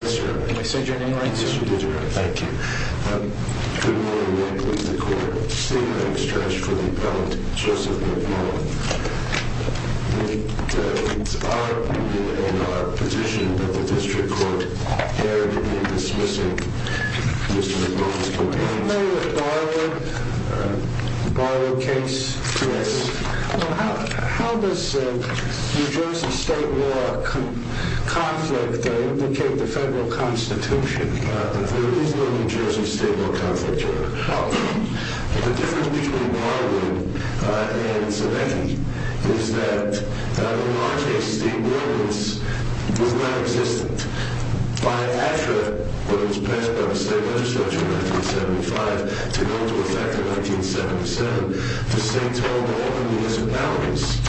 Can I say your name right, sir? Yes, you did your right. Thank you. Good morning. Michael in the court. Same name stretched for the appellant, Joseph McMullen. It is our opinion and our position that the district court hereby dismisses Mr. McMullen's complaint. Are you familiar with the Barwood case? Yes. How does New Jersey state law conflict indicate the federal constitution? There is no New Jersey state law conflict here. The difference between Barwood and Zemecki is that in our case the ordinance was not to go into effect in 1975 to go into effect in 1977. The state told all the municipalities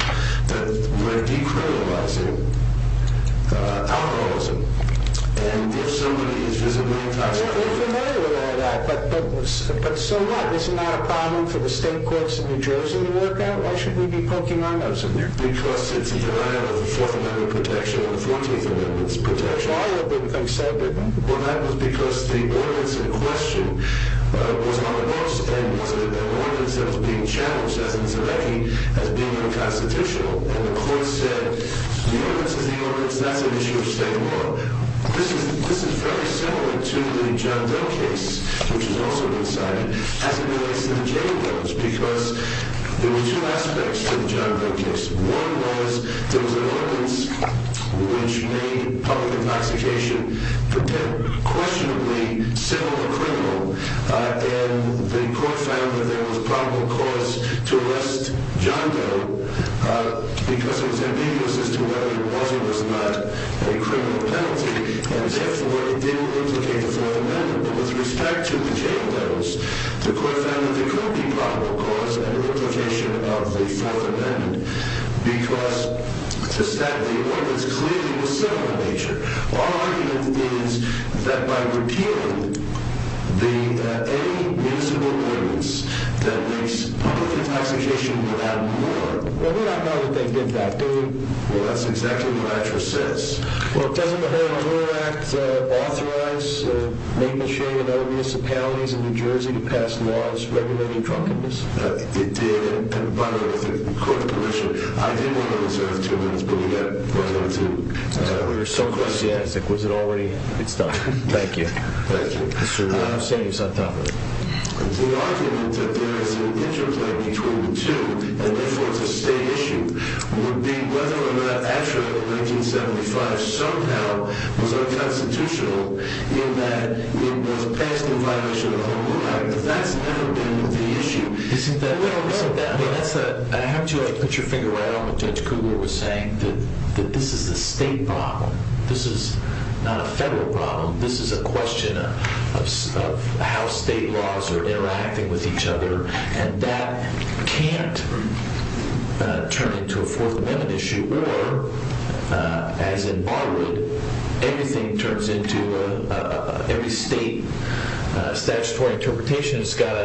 that we're decriminalizing alcoholism. And if somebody is visibly intoxicated... We're familiar with all that, but so what? Isn't that a problem for the state courts in New Jersey to work out? Why should we be poking our nose in there? Because it's a denial of the 4th Amendment protection and the 14th Amendment's protection. Barwood wouldn't come settle with them. Well, that was because the ordinance in question was on the law's end. It was an ordinance that was being challenged, as in Zemecki, as being unconstitutional. And the court said, the ordinance is the ordinance. That's an issue of state law. This is fairly similar to the John Doe case, which is also incited, as it relates to the J Doe's. Because there were two aspects to the John Doe case. One was, there was an ordinance which made public intoxication a questionably similar criminal. And the court found that there was probable cause to arrest John Doe, because it was ambiguous as to whether it was or was not a criminal penalty. And therefore, it didn't replicate the 4th Amendment. But with respect to the J Doe's, the court found that there could be probable cause and a replication of the 4th Amendment. Because the stat of the ordinance clearly was similar in nature. Our argument is that by repealing any municipal ordinance that makes public intoxication without a warrant... Well, we don't know that they did that, do we? Well, that's exactly what I just said. Well, doesn't the Horner Act authorize Nameshade and other municipalities in New Jersey to pass laws regulating drunkenness? It did. And by the way, with the court's permission, I did want to reserve two minutes, but we got run out of time. We were so enthusiastic. Was it already? It's done. Thank you. Thank you. Mr. Ramosenius on top of it. The argument that there is an interplay between the two, and therefore it's a state issue, would be whether or not ASHRAE in 1975 somehow was unconstitutional in that it was passed in violation of the Horner Act. But that's never been the issue. Isn't that... No, no. I mean, that's a... I have to put your finger right on what Judge Cougar was saying, that this is a state problem. This is not a federal problem. This is a question of how state laws are interacting with each other. And that can't turn into a Fourth Amendment issue. Or, as in Barwood, everything turns into a... Every state statutory interpretation has got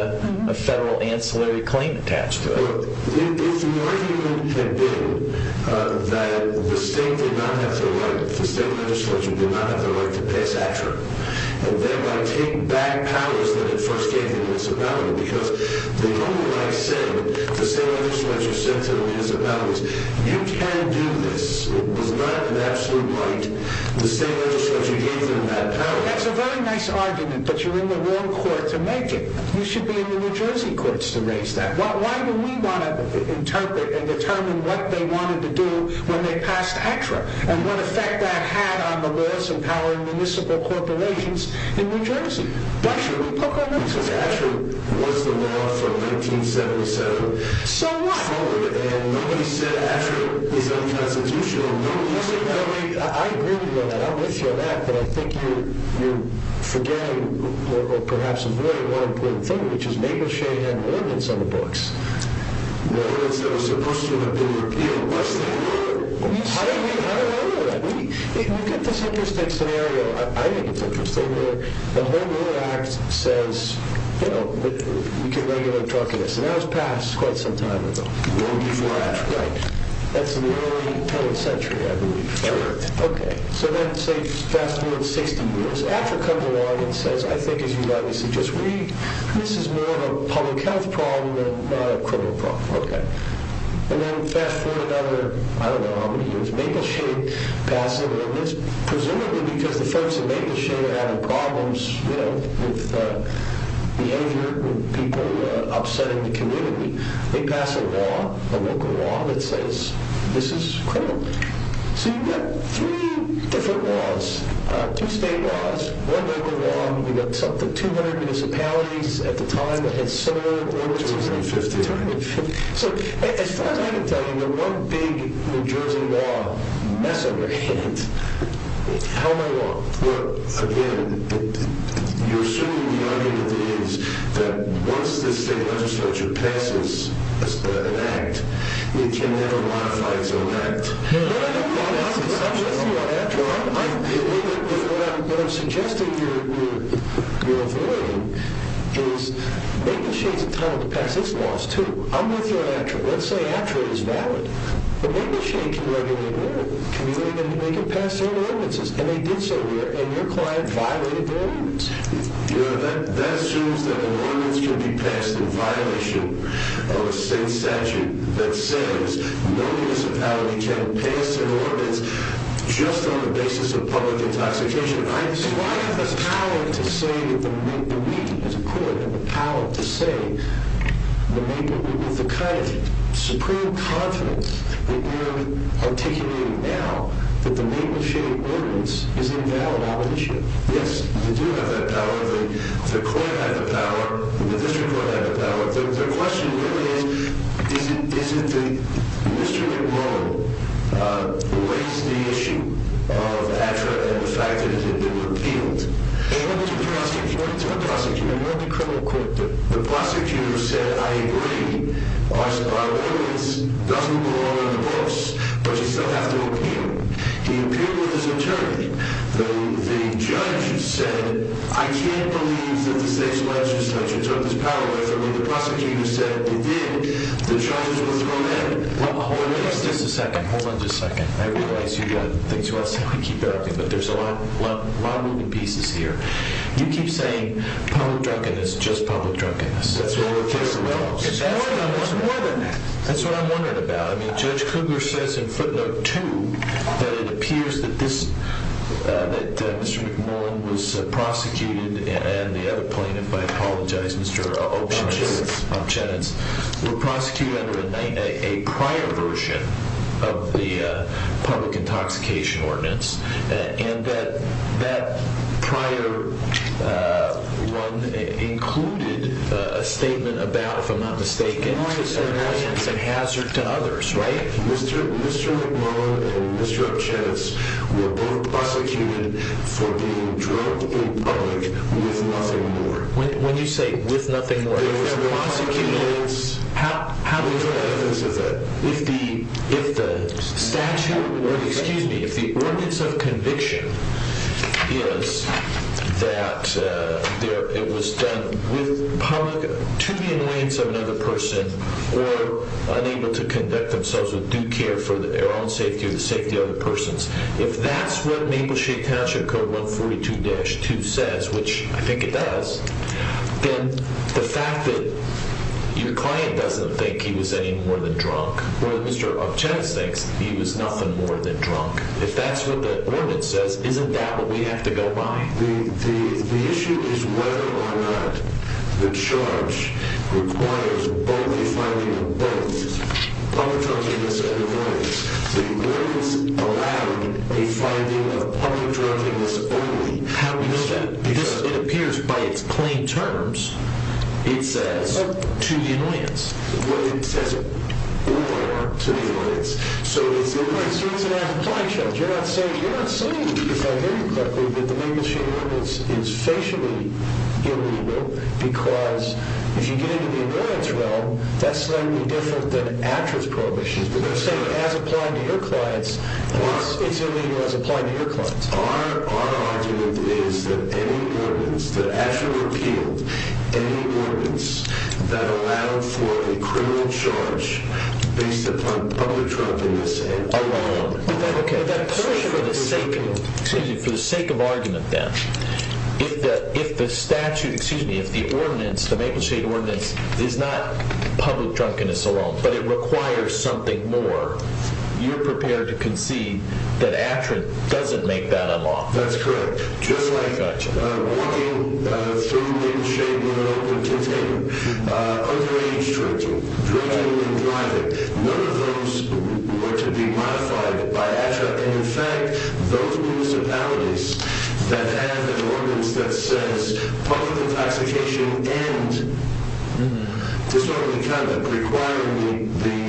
a federal ancillary claim attached to it. If the argument had been that the state did not have the right, the state legislature did not have the right to pass ASHRAE, and thereby take back powers that it first gave to the municipalities, because the only right said, the state legislature said to the municipalities, you can do this, it was not an absolute right, the state legislature gave them that power. That's a very nice argument, but you're in the wrong court to make it. You should be in the New Jersey courts to raise that. Why do we want to interpret and determine what they wanted to do when they passed ASHRAE? And what effect that had on the laws empowering municipal corporations in New Jersey. Why should we poke our nose into that? Because ASHRAE was the law from 1977. So what? And nobody said ASHRAE is unconstitutional. I agree with you on that. I'm with you on that. But I think you're forgetting, or perhaps avoiding, one important thing, which is Mabel Shea had an ordinance on the books. An ordinance that was supposed to have been repealed. I don't agree with that. We get this interesting scenario, I think it's interesting, where the Home Rule Act says, you know, we can regularly talk about this. And that was passed quite some time ago. Before ASHRAE. Right. That's in the early 20th century, I believe. Yeah, right. Okay. So then, say, fast forward 60 years. ASHRAE comes along and says, I think as you've obviously just read, this is more of a public health problem and not a criminal problem. Okay. And then fast forward another, I don't know how many years, Mabel Shea passed an ordinance. Presumably because the folks at Mabel Shea were having problems, you know, with behavior, with people upsetting the community. They pass a law, a local law, that says this is criminal. So you've got three different laws. Two state laws, one local law. We've got 200 municipalities at the time that had similar ordinances. So as far as I can tell, you know, one big New Jersey law mess-up or hint. How am I wrong? Well, again, you're assuming the argument is that once this state legislature passes an act, it can never modify its own act. No, no, no. I'm with you on that, John. What I'm suggesting you're avoiding is Mabel Shea is entitled to pass its laws, too. I'm with you on ASHRAE. Let's say ASHRAE is valid. But Mabel Shea can regulate it. They can pass their ordinances, and they did so here, and your client violated their ordinance. That assumes that an ordinance can be passed in violation of a state statute that says no municipality can pass an ordinance just on the basis of public intoxication. I have the power to say that the Mabel Shea ordinance is invalid. I have the power to say with the kind of supreme confidence that you're articulating now that the Mabel Shea ordinance is invalid. Yes, we do have that power. The court had the power. The district court had the power. The question really is, is it the district court who raised the issue of ASHRAE and the fact that it had been repealed? It was the prosecutor. It was the prosecutor. It was the criminal court. The prosecutor said, I agree. Our ordinance doesn't belong on the books, but you still have to appeal. He appealed with his attorney. The judge said, I can't believe that the state's legislature took this power away when the prosecutor said it did. The charges were thrown at him. Hold on just a second. Hold on just a second. I realize you've got things you want to say. We keep interrupting, but there's a lot of moving pieces here. You keep saying public drunkenness, just public drunkenness. That's what your case involves. It's more than that. It's more than that. That's what I'm wondering about. Judge Cougar says in footnote two that it appears that Mr. McMullen was prosecuted and the other plaintiff, I apologize, Mr. Opchenitz, were prosecuted under a prior version of the public intoxication ordinance, and that prior one included a statement about, if I'm not mistaken, an alliance and hazard to others, right? Mr. McMullen and Mr. Opchenitz were both prosecuted for being drunk in public with nothing more. When you say with nothing more, if they're prosecuted, how do you say that? If the statute or, excuse me, if the ordinance of conviction is that it was done with public, to the annoyance of another person, or unable to conduct themselves with due care for their own safety or the safety of other persons. If that's what Mapleshade Township Code 142-2 says, which I think it does, then the fact that your client doesn't think he was any more than drunk or that Mr. Opchenitz thinks he was nothing more than drunk, if that's what the ordinance says, isn't that what we have to go by? The issue is whether or not the charge requires both a finding of both public drunkenness and annoyance. The ordinance allowed a finding of public drunkenness only. How do we know that? Because it appears by its plain terms, it says to the annoyance. The ordinance says or to the annoyance. So it's an application. You're not saying, if I hear you correctly, that the Mapleshade ordinance is facially illegal because if you get into the annoyance realm, that's slightly different than ASHRAE's prohibitions. You're not saying as applied to your clients, it's illegal as applied to your clients. Our argument is that any ordinance that ASHRAE repealed, any ordinance that allowed for a criminal charge based upon public drunkenness alone. For the sake of argument then, if the statute, excuse me, if the ordinance, the Mapleshade ordinance, is not public drunkenness alone, but it requires something more, you're prepared to concede that ASHRAE doesn't make that a law. That's correct. Just like walking through Mapleshade with an open container, underage drinking, drinking and driving, none of those were to be modified by ASHRAE. In fact, those municipalities that have an ordinance that says public intoxication and disorderly conduct requiring the...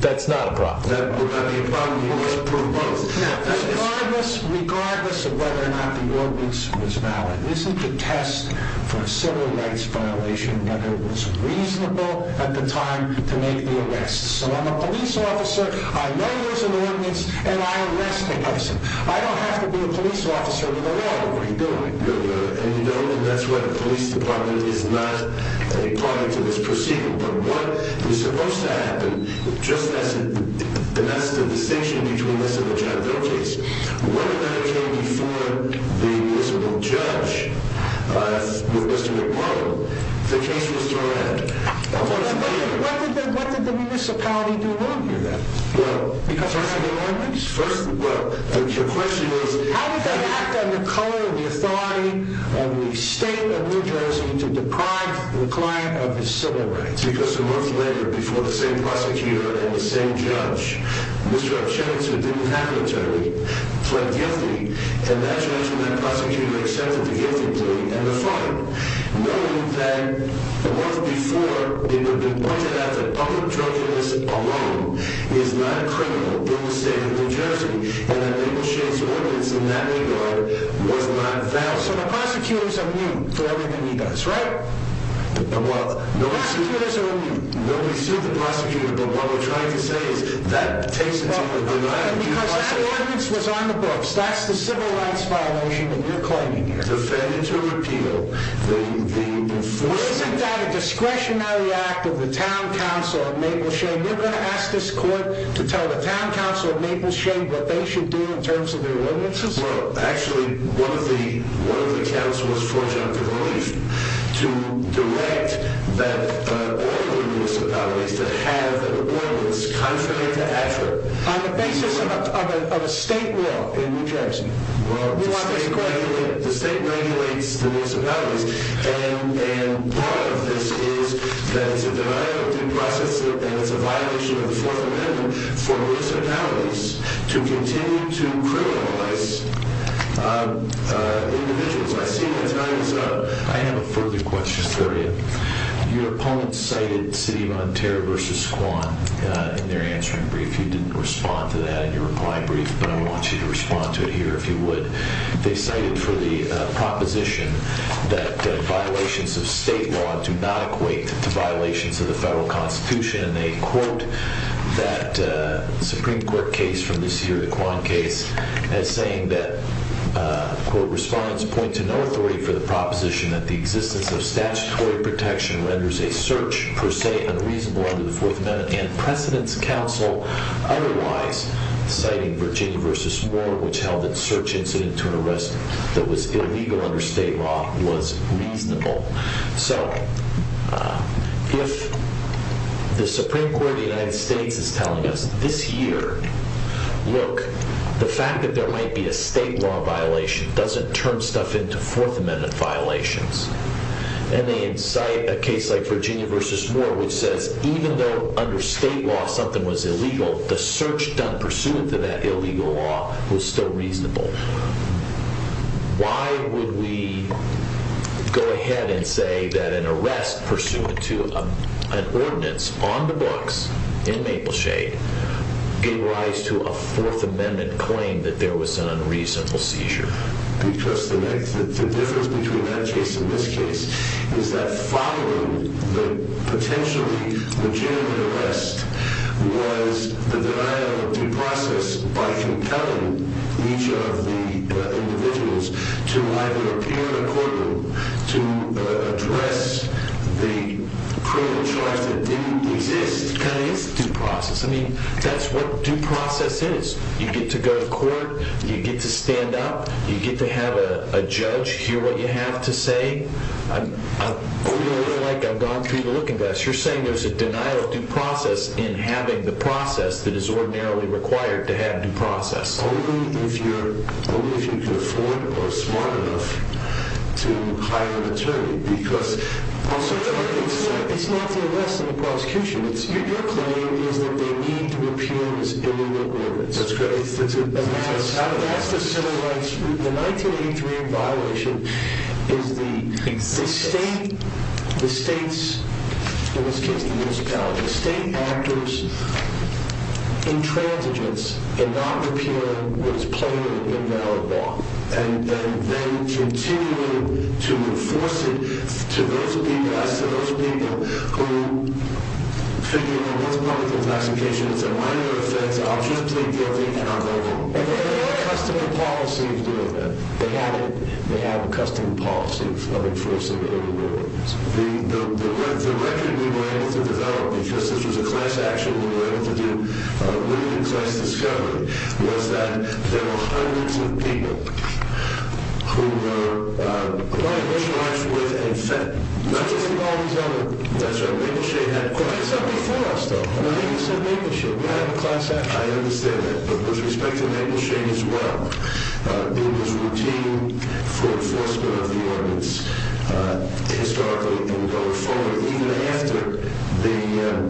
That's not a problem. That would not be a problem. You must approve both. Regardless of whether or not the ordinance was valid, isn't the test for a civil rights violation, whether it was reasonable at the time to make the arrest. So I'm a police officer, I know there's an ordinance, and I arrest the person. I don't have to be a police officer to know what I'm doing. And you know that's what the police department is not, according to this proceeding. But what is supposed to happen, and that's the distinction between this and the John Doe case, when it came before the municipal judge, with Mr. McBride, the case was direct. What did the municipality do wrong here then? Well, your question is... How did they act on the color of the authority of the state of New Jersey to deprive the client of his civil rights? Because a month later, before the same prosecutor and the same judge, Mr. Archivist, who didn't have an attorney, pled guilty, and that judge and that prosecutor accepted the guilty plea and the fine, knowing that the month before, it had been pointed out that public drunkenness alone is not a criminal in the state of New Jersey, and that Abel Shade's ordinance in that regard was not valid. So the prosecutor's immune to everything he does, right? The prosecutors are immune. Nobody sued the prosecutor, but what we're trying to say is that takes into the denial... Because that ordinance was on the books. That's the civil rights violation that you're claiming here. Defendant to repeal the... Isn't that a discretionary act of the town council of Mabel Shade? You're going to ask this court to tell the town council of Mabel Shade what they should do in terms of their ordinances? Well, actually, one of the council was forged under relief to direct that order in municipalities to have an ordinance contrary to ACRA. On the basis of a state law in New Jersey? Well, the state regulates the municipalities, and part of this is that it's a development in process and it's a violation of the Fourth Amendment for municipalities to continue to criminalize individuals. I see my time is up. I have a further question for you. Your opponent cited City of Ontario v. Squam in their answering brief. You didn't respond to that in your reply brief, but I want you to respond to it here if you would. They cited for the proposition that violations of state law do not equate to violations of the federal constitution, and they quote that Supreme Court case from this year, the Quan case, as saying that, quote, respondents point to no authority for the proposition that the existence of statutory protection renders a search, per se, unreasonable under the Fourth Amendment, and precedents counsel otherwise, citing Virginia v. Moore, which held that search incident to an arrest that was illegal under state law was reasonable. So if the Supreme Court of the United States is telling us this year, look, the fact that there might be a state law violation doesn't turn stuff into Fourth Amendment violations, and they incite a case like Virginia v. Moore which says that even though under state law something was illegal, the search done pursuant to that illegal law was still reasonable. Why would we go ahead and say that an arrest pursuant to an ordinance on the books in Mapleshade gave rise to a Fourth Amendment claim that there was an unreasonable seizure? Because the difference between that case and this case is that following the potentially legitimate arrest was the denial of due process by compelling each of the individuals to either appear in a courtroom to address the criminal charge that didn't exist. That is due process. I mean, that's what due process is. You get to go to court. You get to stand up. You get to have a judge hear what you have to say. I'm going through the looking glass. You're saying there's a denial of due process in having the process that is ordinarily required to have due process. Only if you can afford or are smart enough to hire an attorney. It's not the arrest and the prosecution. Your claim is that they need to appear in this illegal ordinance. That's correct. The 1983 violation is the state actors' intransigence in not appealing what is plainly invalid law and then continuing to enforce it to those people who think that this public investigation is a minor offense, and they have a custom policy of doing that. They have a custom policy of enforcing illegal ordinance. The record we were able to develop, because this was a class action we were able to do, leading to class discovery, was that there were hundreds of people who were in charge with a fed. Including all these other... That's right. We had a class action. I understand that. But with respect to Mabel Shane as well, it was routine for enforcement of the ordinance historically and going forward, even after the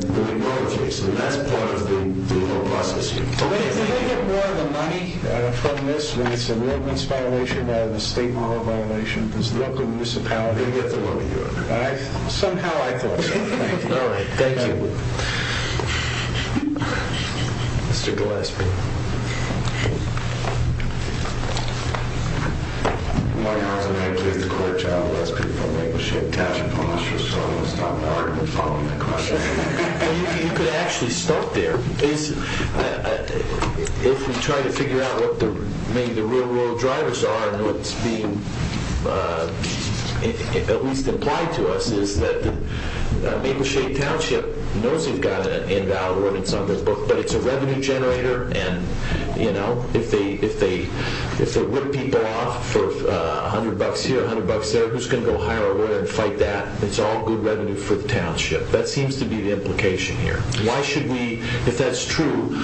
McMurray case. And that's part of the whole process. Do they get more of the money from this when it's an ordinance violation rather than a state model violation? Because the local municipality... They get the money, Your Honor. Somehow I thought so. Thank you. Thank you. Mr. Gillespie. You could actually start there. If we try to figure out what maybe the real world drivers are and what's being at least implied to us is that the Mabel Shane Township knows they've got an invalid ordinance on their book, but it's a revenue generator, and if they rip people off for a hundred bucks here, a hundred bucks there, who's going to go hire a lawyer and fight that? It's all good revenue for the township. That seems to be the implication here. Why should we... If that's true,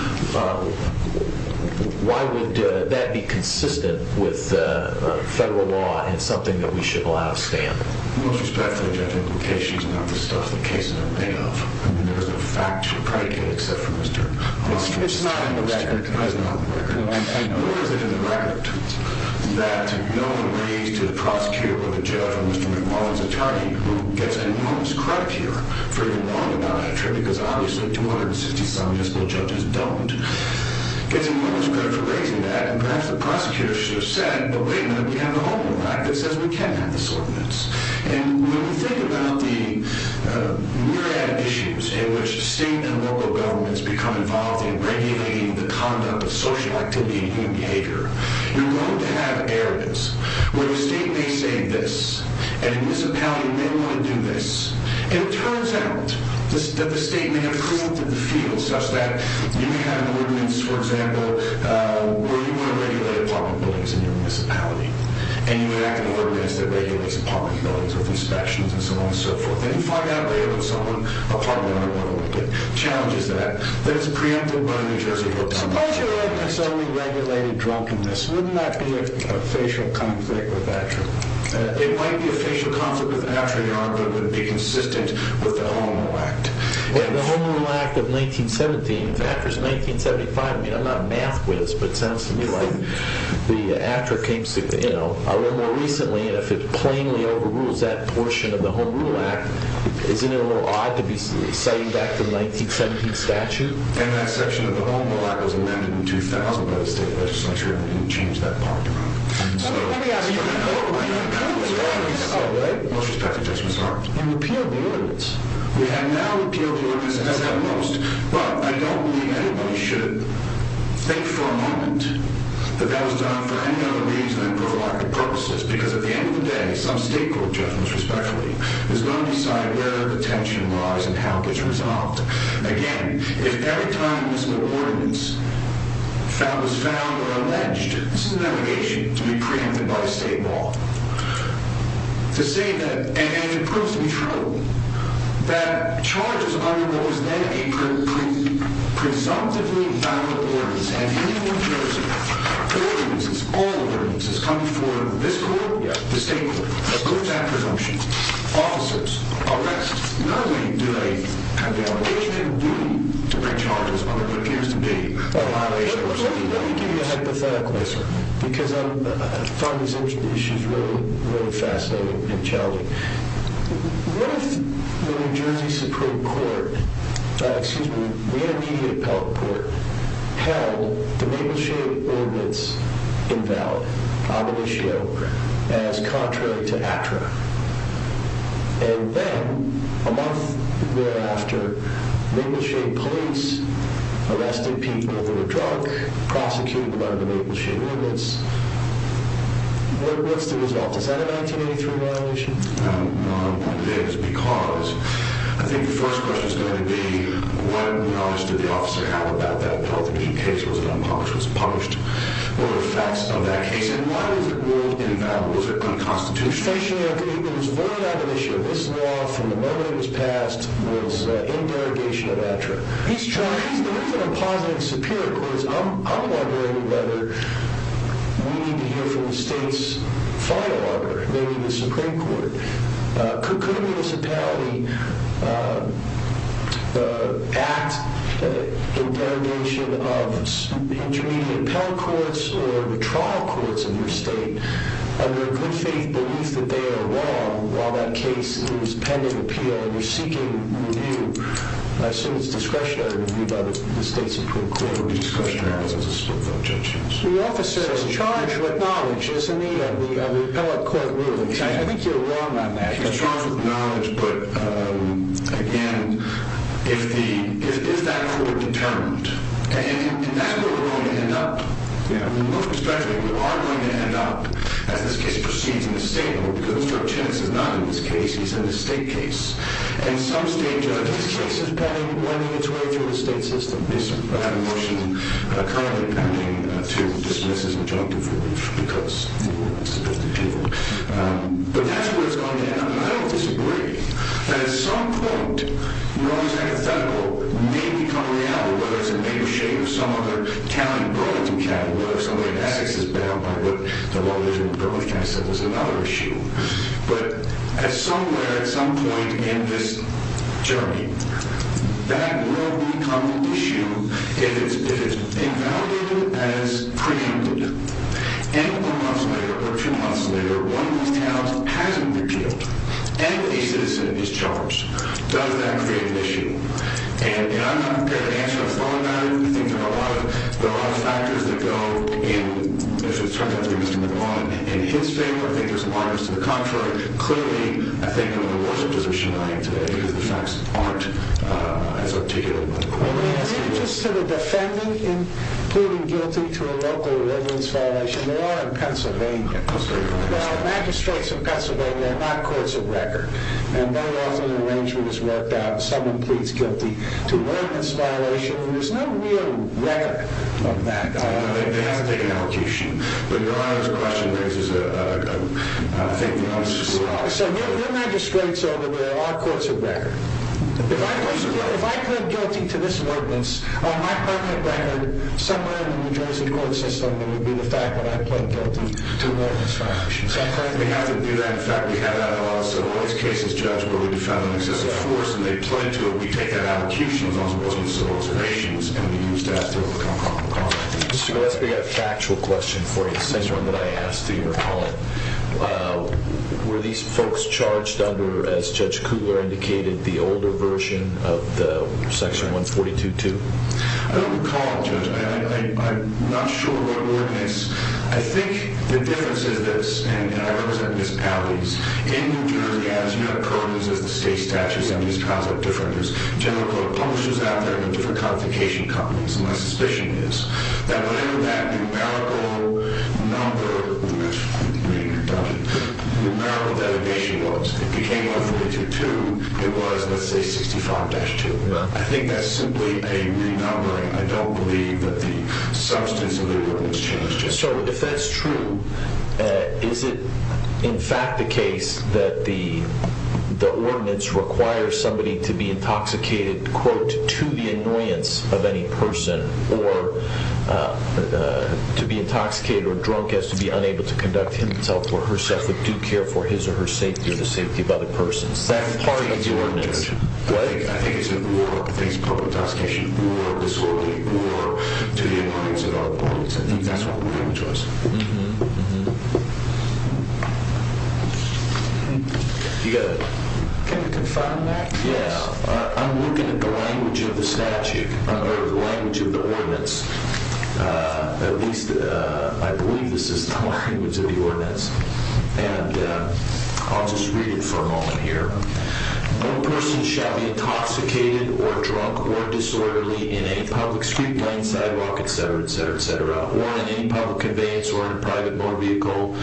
why would that be consistent with federal law and something that we should allow to stand? Most respectfully, Your Honor, the implication is not the stuff the cases are made of. There is no fact to predicate except for Mr. Armstrong's time. It's not in the record. It is not in the record. No, I know. Where is it in the record that no one raised to the prosecutor or the judge or Mr. McLaughlin's attorney, who gets enormous credit here for getting wrong about that attribute because obviously 260-some municipal judges don't, gets enormous credit for raising that, and perhaps the prosecutor should have said, but wait a minute, we have a whole new act that says we can't have this ordinance. And when we think about the rear-end issues in which state and local governments become involved in regulating the conduct of social activity and human behavior, you're going to have areas where the state may say this and a municipality may want to do this, and it turns out that the state may have corrupted the field such that you may have an ordinance, for example, where you want to regulate apartment buildings in your municipality and you enact an ordinance that regulates apartment buildings with inspections and so on and so forth, and you find out later that someone, apartment owner or whatever, that challenges that, that it's preempted by the New Jersey Horticultural Act. Suppose you're right, it's only regulated drunkenness. Wouldn't that be a facial conflict with Atria? It might be a facial conflict with Atria, but it would be consistent with the Home Rule Act. The Home Rule Act of 1917, in fact, or 1975, I mean, I'm not a math whiz, but it sounds to me like the Atria came a little more recently, and if it plainly overrules that portion of the Home Rule Act, isn't it a little odd to be citing back to the 1917 statute? And that section of the Home Rule Act was amended in 2000 by the State Legislature, and they didn't change that part. Let me ask you a question. Oh, right. Most respectfully, Judge Ms. Hart. And repealed the ordinance. We have now repealed the ordinance, it does that most. Well, I don't believe anybody should think for a moment that that was done for any other reason than provocative purposes, because at the end of the day, some state court judgment, respectfully, is going to decide where the tension lies and how it gets resolved. Again, if every time this ordinance was found or alleged, this is an allegation to be preempted by state law. To say that, and it proves to be true, that charges under what was then a presumptively valid ordinance, and here in New Jersey, ordinances, all ordinances, come before this court, the state court, that proves that presumption. Officers, arrests, not only do they have the obligation and duty to bring charges under what appears to be a violation of state law. Let me give you a hypothetical. Yes, sir. Because I find these issues really fascinating and challenging. What if the New Jersey Supreme Court, excuse me, the immediate appellate court, held the Mapleshade Ordinance invalid, omniscio, as contrary to ATRA? And then, a month thereafter, Mapleshade police arrested people who were drunk, prosecuted them under the Mapleshade Ordinance. What's the result? Is that a 1983 violation? No. It is because, I think the first question is going to be, what knowledge did the officer have about that Pelton Key case? Was it unpublished? Was it published? What are the facts of that case? And why was it ruled invalid? Was it unconstitutional? Essentially, it was void of admission. This law, from the moment it was passed, was in derogation of ATRA. He's trying, there isn't a positive Superior Court. I'm wondering whether we need to hear from the state's final arbiter, maybe the Supreme Court. Could a municipality act in derogation of intermediate appellate courts or the trial courts in your state under a good faith belief that they are wrong while that case is pending appeal and you're seeking review, I assume it's discretionary review, by the state Supreme Court. The officer is charged with knowledge, isn't he, of the appellate court ruling. I think you're wrong on that. He's charged with knowledge, but again, is that court determined? And that's where we're going to end up. Most respectfully, we are going to end up, as this case proceeds in the state, because Mr. Chinnis is not in this case, he's in the state case. And some state judges... This case is pending, running its way through the state system. We have a motion currently pending to dismiss his objective for relief because he's a convicted criminal. But that's where it's going to end up. And I don't disagree that at some point, you know, this hypothetical may become reality, whether it's in the name or shape of some other county in Burlington County, whether it's somewhere in Essex that's bound by what the lawyers in Burlington County said was another issue. But at some point in this journey, that will become an issue if it's evaluated as preempted. And a month's later, or two months later, one of these towns hasn't repealed, and a citizen is charged. Does that create an issue? And I'm not prepared to answer that. I think there are a lot of factors that go, and if it's turned out to be Mr. McGaughan in his favor, I think there's lawyers to the contrary. Clearly, I think we're in a worse position than we are today, because the facts aren't as articulate. Let me ask you, just to the defendant in pleading guilty to a local arrevance violation, they are in Pennsylvania. Now, magistrates in Pennsylvania are not courts of record. And very often, an arrangement is worked out, someone pleads guilty to an arrevance violation, and there's no real record of that. They haven't taken application. But your Honor, this question raises a thing that I was just about to say. Your magistrates are where our courts of record. If I plead guilty to this ordinance, on my part of the record, somewhere in the New Jersey court system, it would be the fact that I plead guilty to an arrevance violation. We have to do that. In fact, we have that in a lot of civil case cases, judge, where we defend an excessive force, and they plead to it. We take that out of accusations, as opposed to civil observations, and we use that to overcome complications. Mr. Gillespie, I have a factual question for you, the same one that I asked to your colleague. Were these folks charged under, as Judge Kugler indicated, the older version of Section 142.2? I don't recall, Judge. I'm not sure what ordinance. I think the difference is this, and I represent municipalities. In New Jersey, as you know, currently, there's a state statute and these trials are different. There's general court publishers out there and different codification companies, and my suspicion is that whatever that numerical number numerical dedication was, it became 142.2. It was, let's say, 65-2. I think that's simply a renumbering. I don't believe that the substance of the ordinance changed. So if that's true, is it in fact the case that the ordinance requires somebody to be intoxicated, quote, to the annoyance of any person, or to be intoxicated or drunk as to be unable to conduct himself or herself with due care for his or her safety or the safety of other persons? That's part of the ordinance. What? I think it's more, I think it's public intoxication, more disorderly, more to the annoyance of our opponents. I think that's what the ordinance was. Mm-hmm, mm-hmm. You got a... Can you confirm that? Yes. I'm looking at the language of the statute, or the language of the ordinance. At least, I believe this is the language of the ordinance. And I'll just read it for a moment here. No person shall be intoxicated or drunk or disorderly in a public street, lane, sidewalk, et cetera, et cetera, et cetera, or in any public conveyance or in a private motor vehicle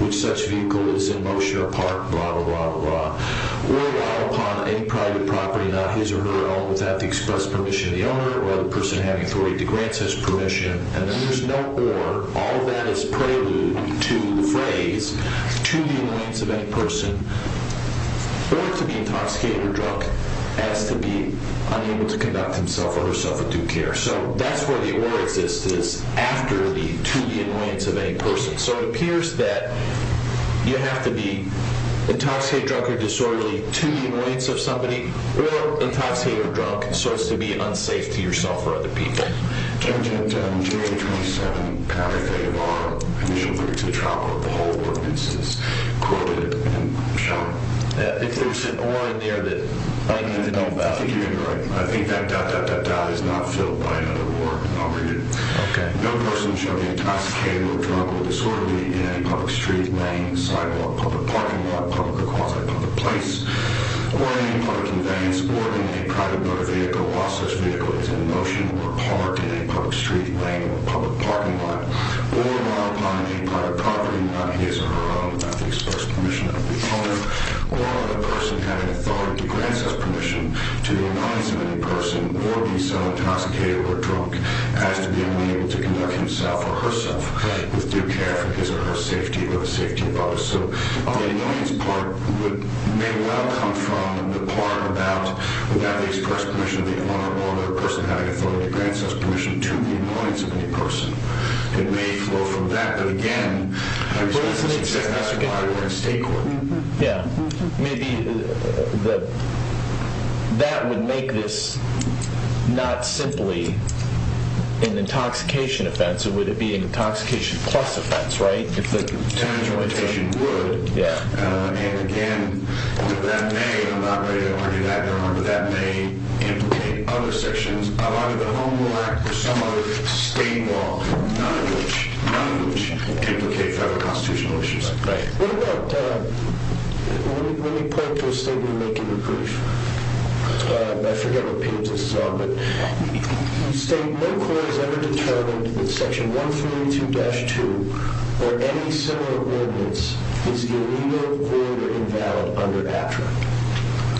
which such vehicle is in motion or park, blah, blah, blah, blah, or while upon any private property, not his or her own, without the express permission of the owner or the person having authority to grant such permission. And then there's no or. All that is prelude to the phrase to the annoyance of any person or to be intoxicated or drunk as to be unable to conduct himself or herself with due care. So that's where the or exists, is after the to the annoyance of any person. So it appears that you have to be intoxicated, drunk, or disorderly to the annoyance of somebody or intoxicated or drunk so as to be unsafe to yourself or other people. MR. GRIFFITHS. Jim, Jim, Jim, 2827 Pounder Fade Bar, Initial Critics of the Trial Court, the whole ordinance is quoted and shown. CHIEF JUSTICE. If there's an or in there that I need to know about. MR. GRIFFITHS. I think you're right. I think that dot, dot, dot, dot is not filled by another or. I'll read it. CHIEF JUSTICE. Okay. MR. GRIFFITHS. No person shall be intoxicated or drunk or disorderly in any public street, lane, sidewalk, public parking lot, public or quasi-public place or in any public conveyance or in any private motor vehicle while such vehicle is in motion or parked in a public street, lane, or public parking lot or while upon any private property not his or her own without the express permission of the owner or of the person having authority to grant such permission to the annoyance of any person or be so intoxicated or drunk as to be unable to conduct himself or herself with due care for his or her safety or the safety of others. So the annoyance part may well come from the part about without the express permission of the owner or of the person having authority to grant such permission to the annoyance of any person. It may flow from that. But again, I believe this is exactly why we're in state court. CHIEF JUSTICE. Yeah. Maybe that would make this not simply an intoxication offense. It would be an intoxication plus offense, right? If the termination would. MR. GRIFFITHS. Yeah. And again, that may, and I'm not ready to argue that, but remember, that may implicate other sections. A lot of the home will act or some other state law, none of which, none of which, implicate federal constitutional issues. CHIEF JUSTICE. Right. What about, let me point to a statement you make in your brief. I forget what page this is on, but you state, no court has ever determined that Section 132-2 or any similar ordinance is illegal, void, or invalid under AFTRA. MR.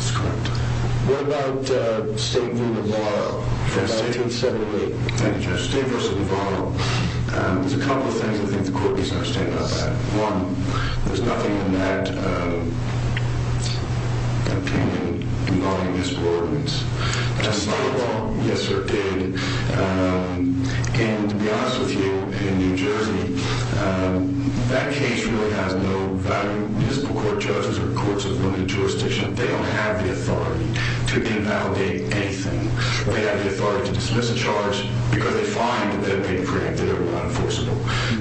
GRIFFITHS. That's correct. CHIEF JUSTICE. What about the statement of moral? MR. GRIFFITHS. Yes. CHIEF JUSTICE. I take it separately. MR. GRIFFITHS. Thank you, Justice. The statement of moral, there's a couple of things I think the court needs to understand about that. One, there's nothing in that opinion involving this ordinance. CHIEF JUSTICE. Justify the law? MR. GRIFFITHS. Yes, sir, it did. And to be honest with you, in New Jersey, that case really hasn't been And even though value municipal court judges or courts of limited jurisdiction, they don't have the authority to invalidate anything. They have the authority to dismiss a charge because they find that they're being preempted or unenforceable.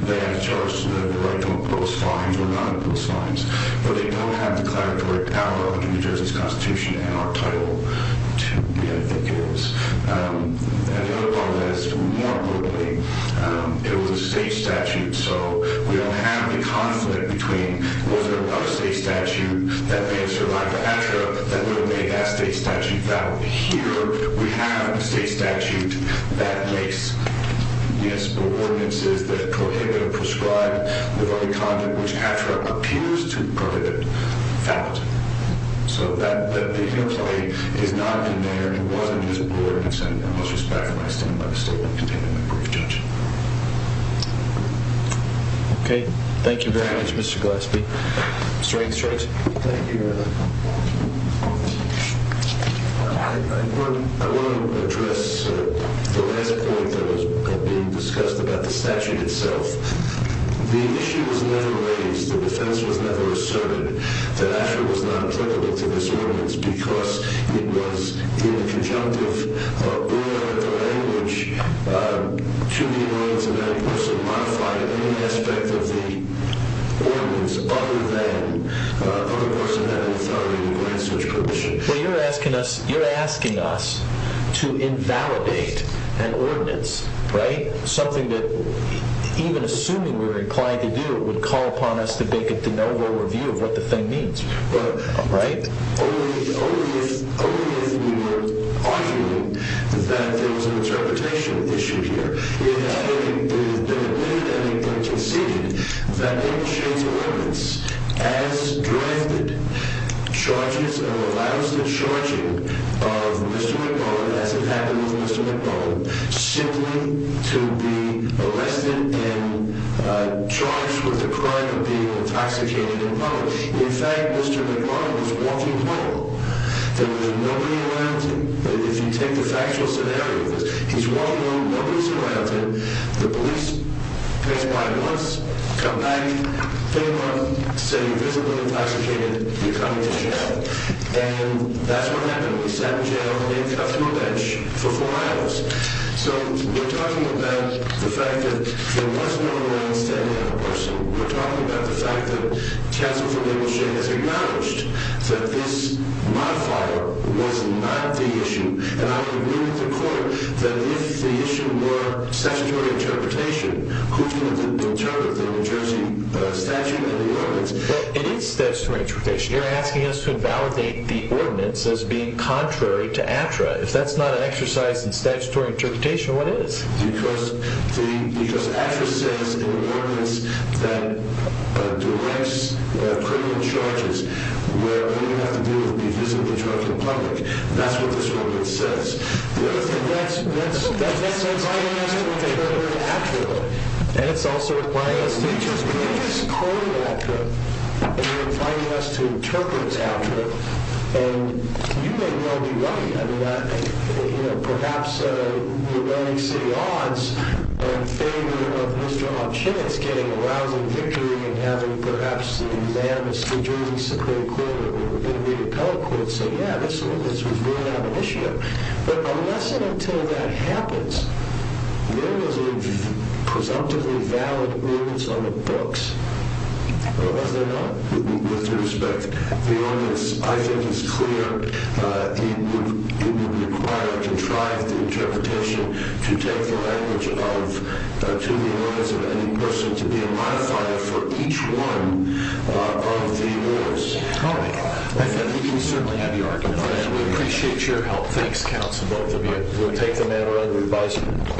They have the charge to have the right to impose fines or not impose fines. But they don't have declaratory power under New Jersey's Constitution to be ambiguous. And the other part of that is, more importantly, it was a state statute, so we don't have any conflict between the state and the state. We don't have a conflict between was there another state statute that may have survived the ATRA that would have made that state statute valid. Here, we have a state statute that makes municipal ordinances that prohibit or prescribe the very content which ATRA appears to prohibit valid. So that, the interplay is not in there and wasn't in this ordinance and I must respect when I stand by the statement contained in my brief, Judge. Okay. Thank you very much, Mr. Gillespie. Mr. Ainsworth. Thank you, Your Honor. I want to address the last point that was being discussed about the statute itself. The issue was never raised. was never asserted that ATRA was not applicable to this ordinance because it was in the conjunctive of where the language could be used to describe the state of the ordinance and that person modified any aspect of the ordinance other than other person having authority to grant such permission. Well, you're asking us to invalidate an ordinance, right? Something that even assuming we were inclined to do would call upon us to make a de novo review of what the thing means, right? Only if we were arguing that there was an interpretation issue here. It had been conceded that it should as directed charges and allows the charging of Mr. McMullen as it happened with Mr. McMullen simply to be arrested and charged with the crime of being intoxicated McMullen. In fact, Mr. McMullen was walking home. There was nobody around him. If you take the factual scenario, he's walking home, nobody's around him, the police pass by once, come back, take him off, say, you're visibly intoxicated, you're coming to an incident, come back. You're walking home, and the police come back. You're walking home, and the police come back. They come him stumbling around in the park, and you hear him using a gun to shoot there. You have to think about it. You have to think about it. You have to think about it. It is not going to change your life. It is not going to change your life. It will change your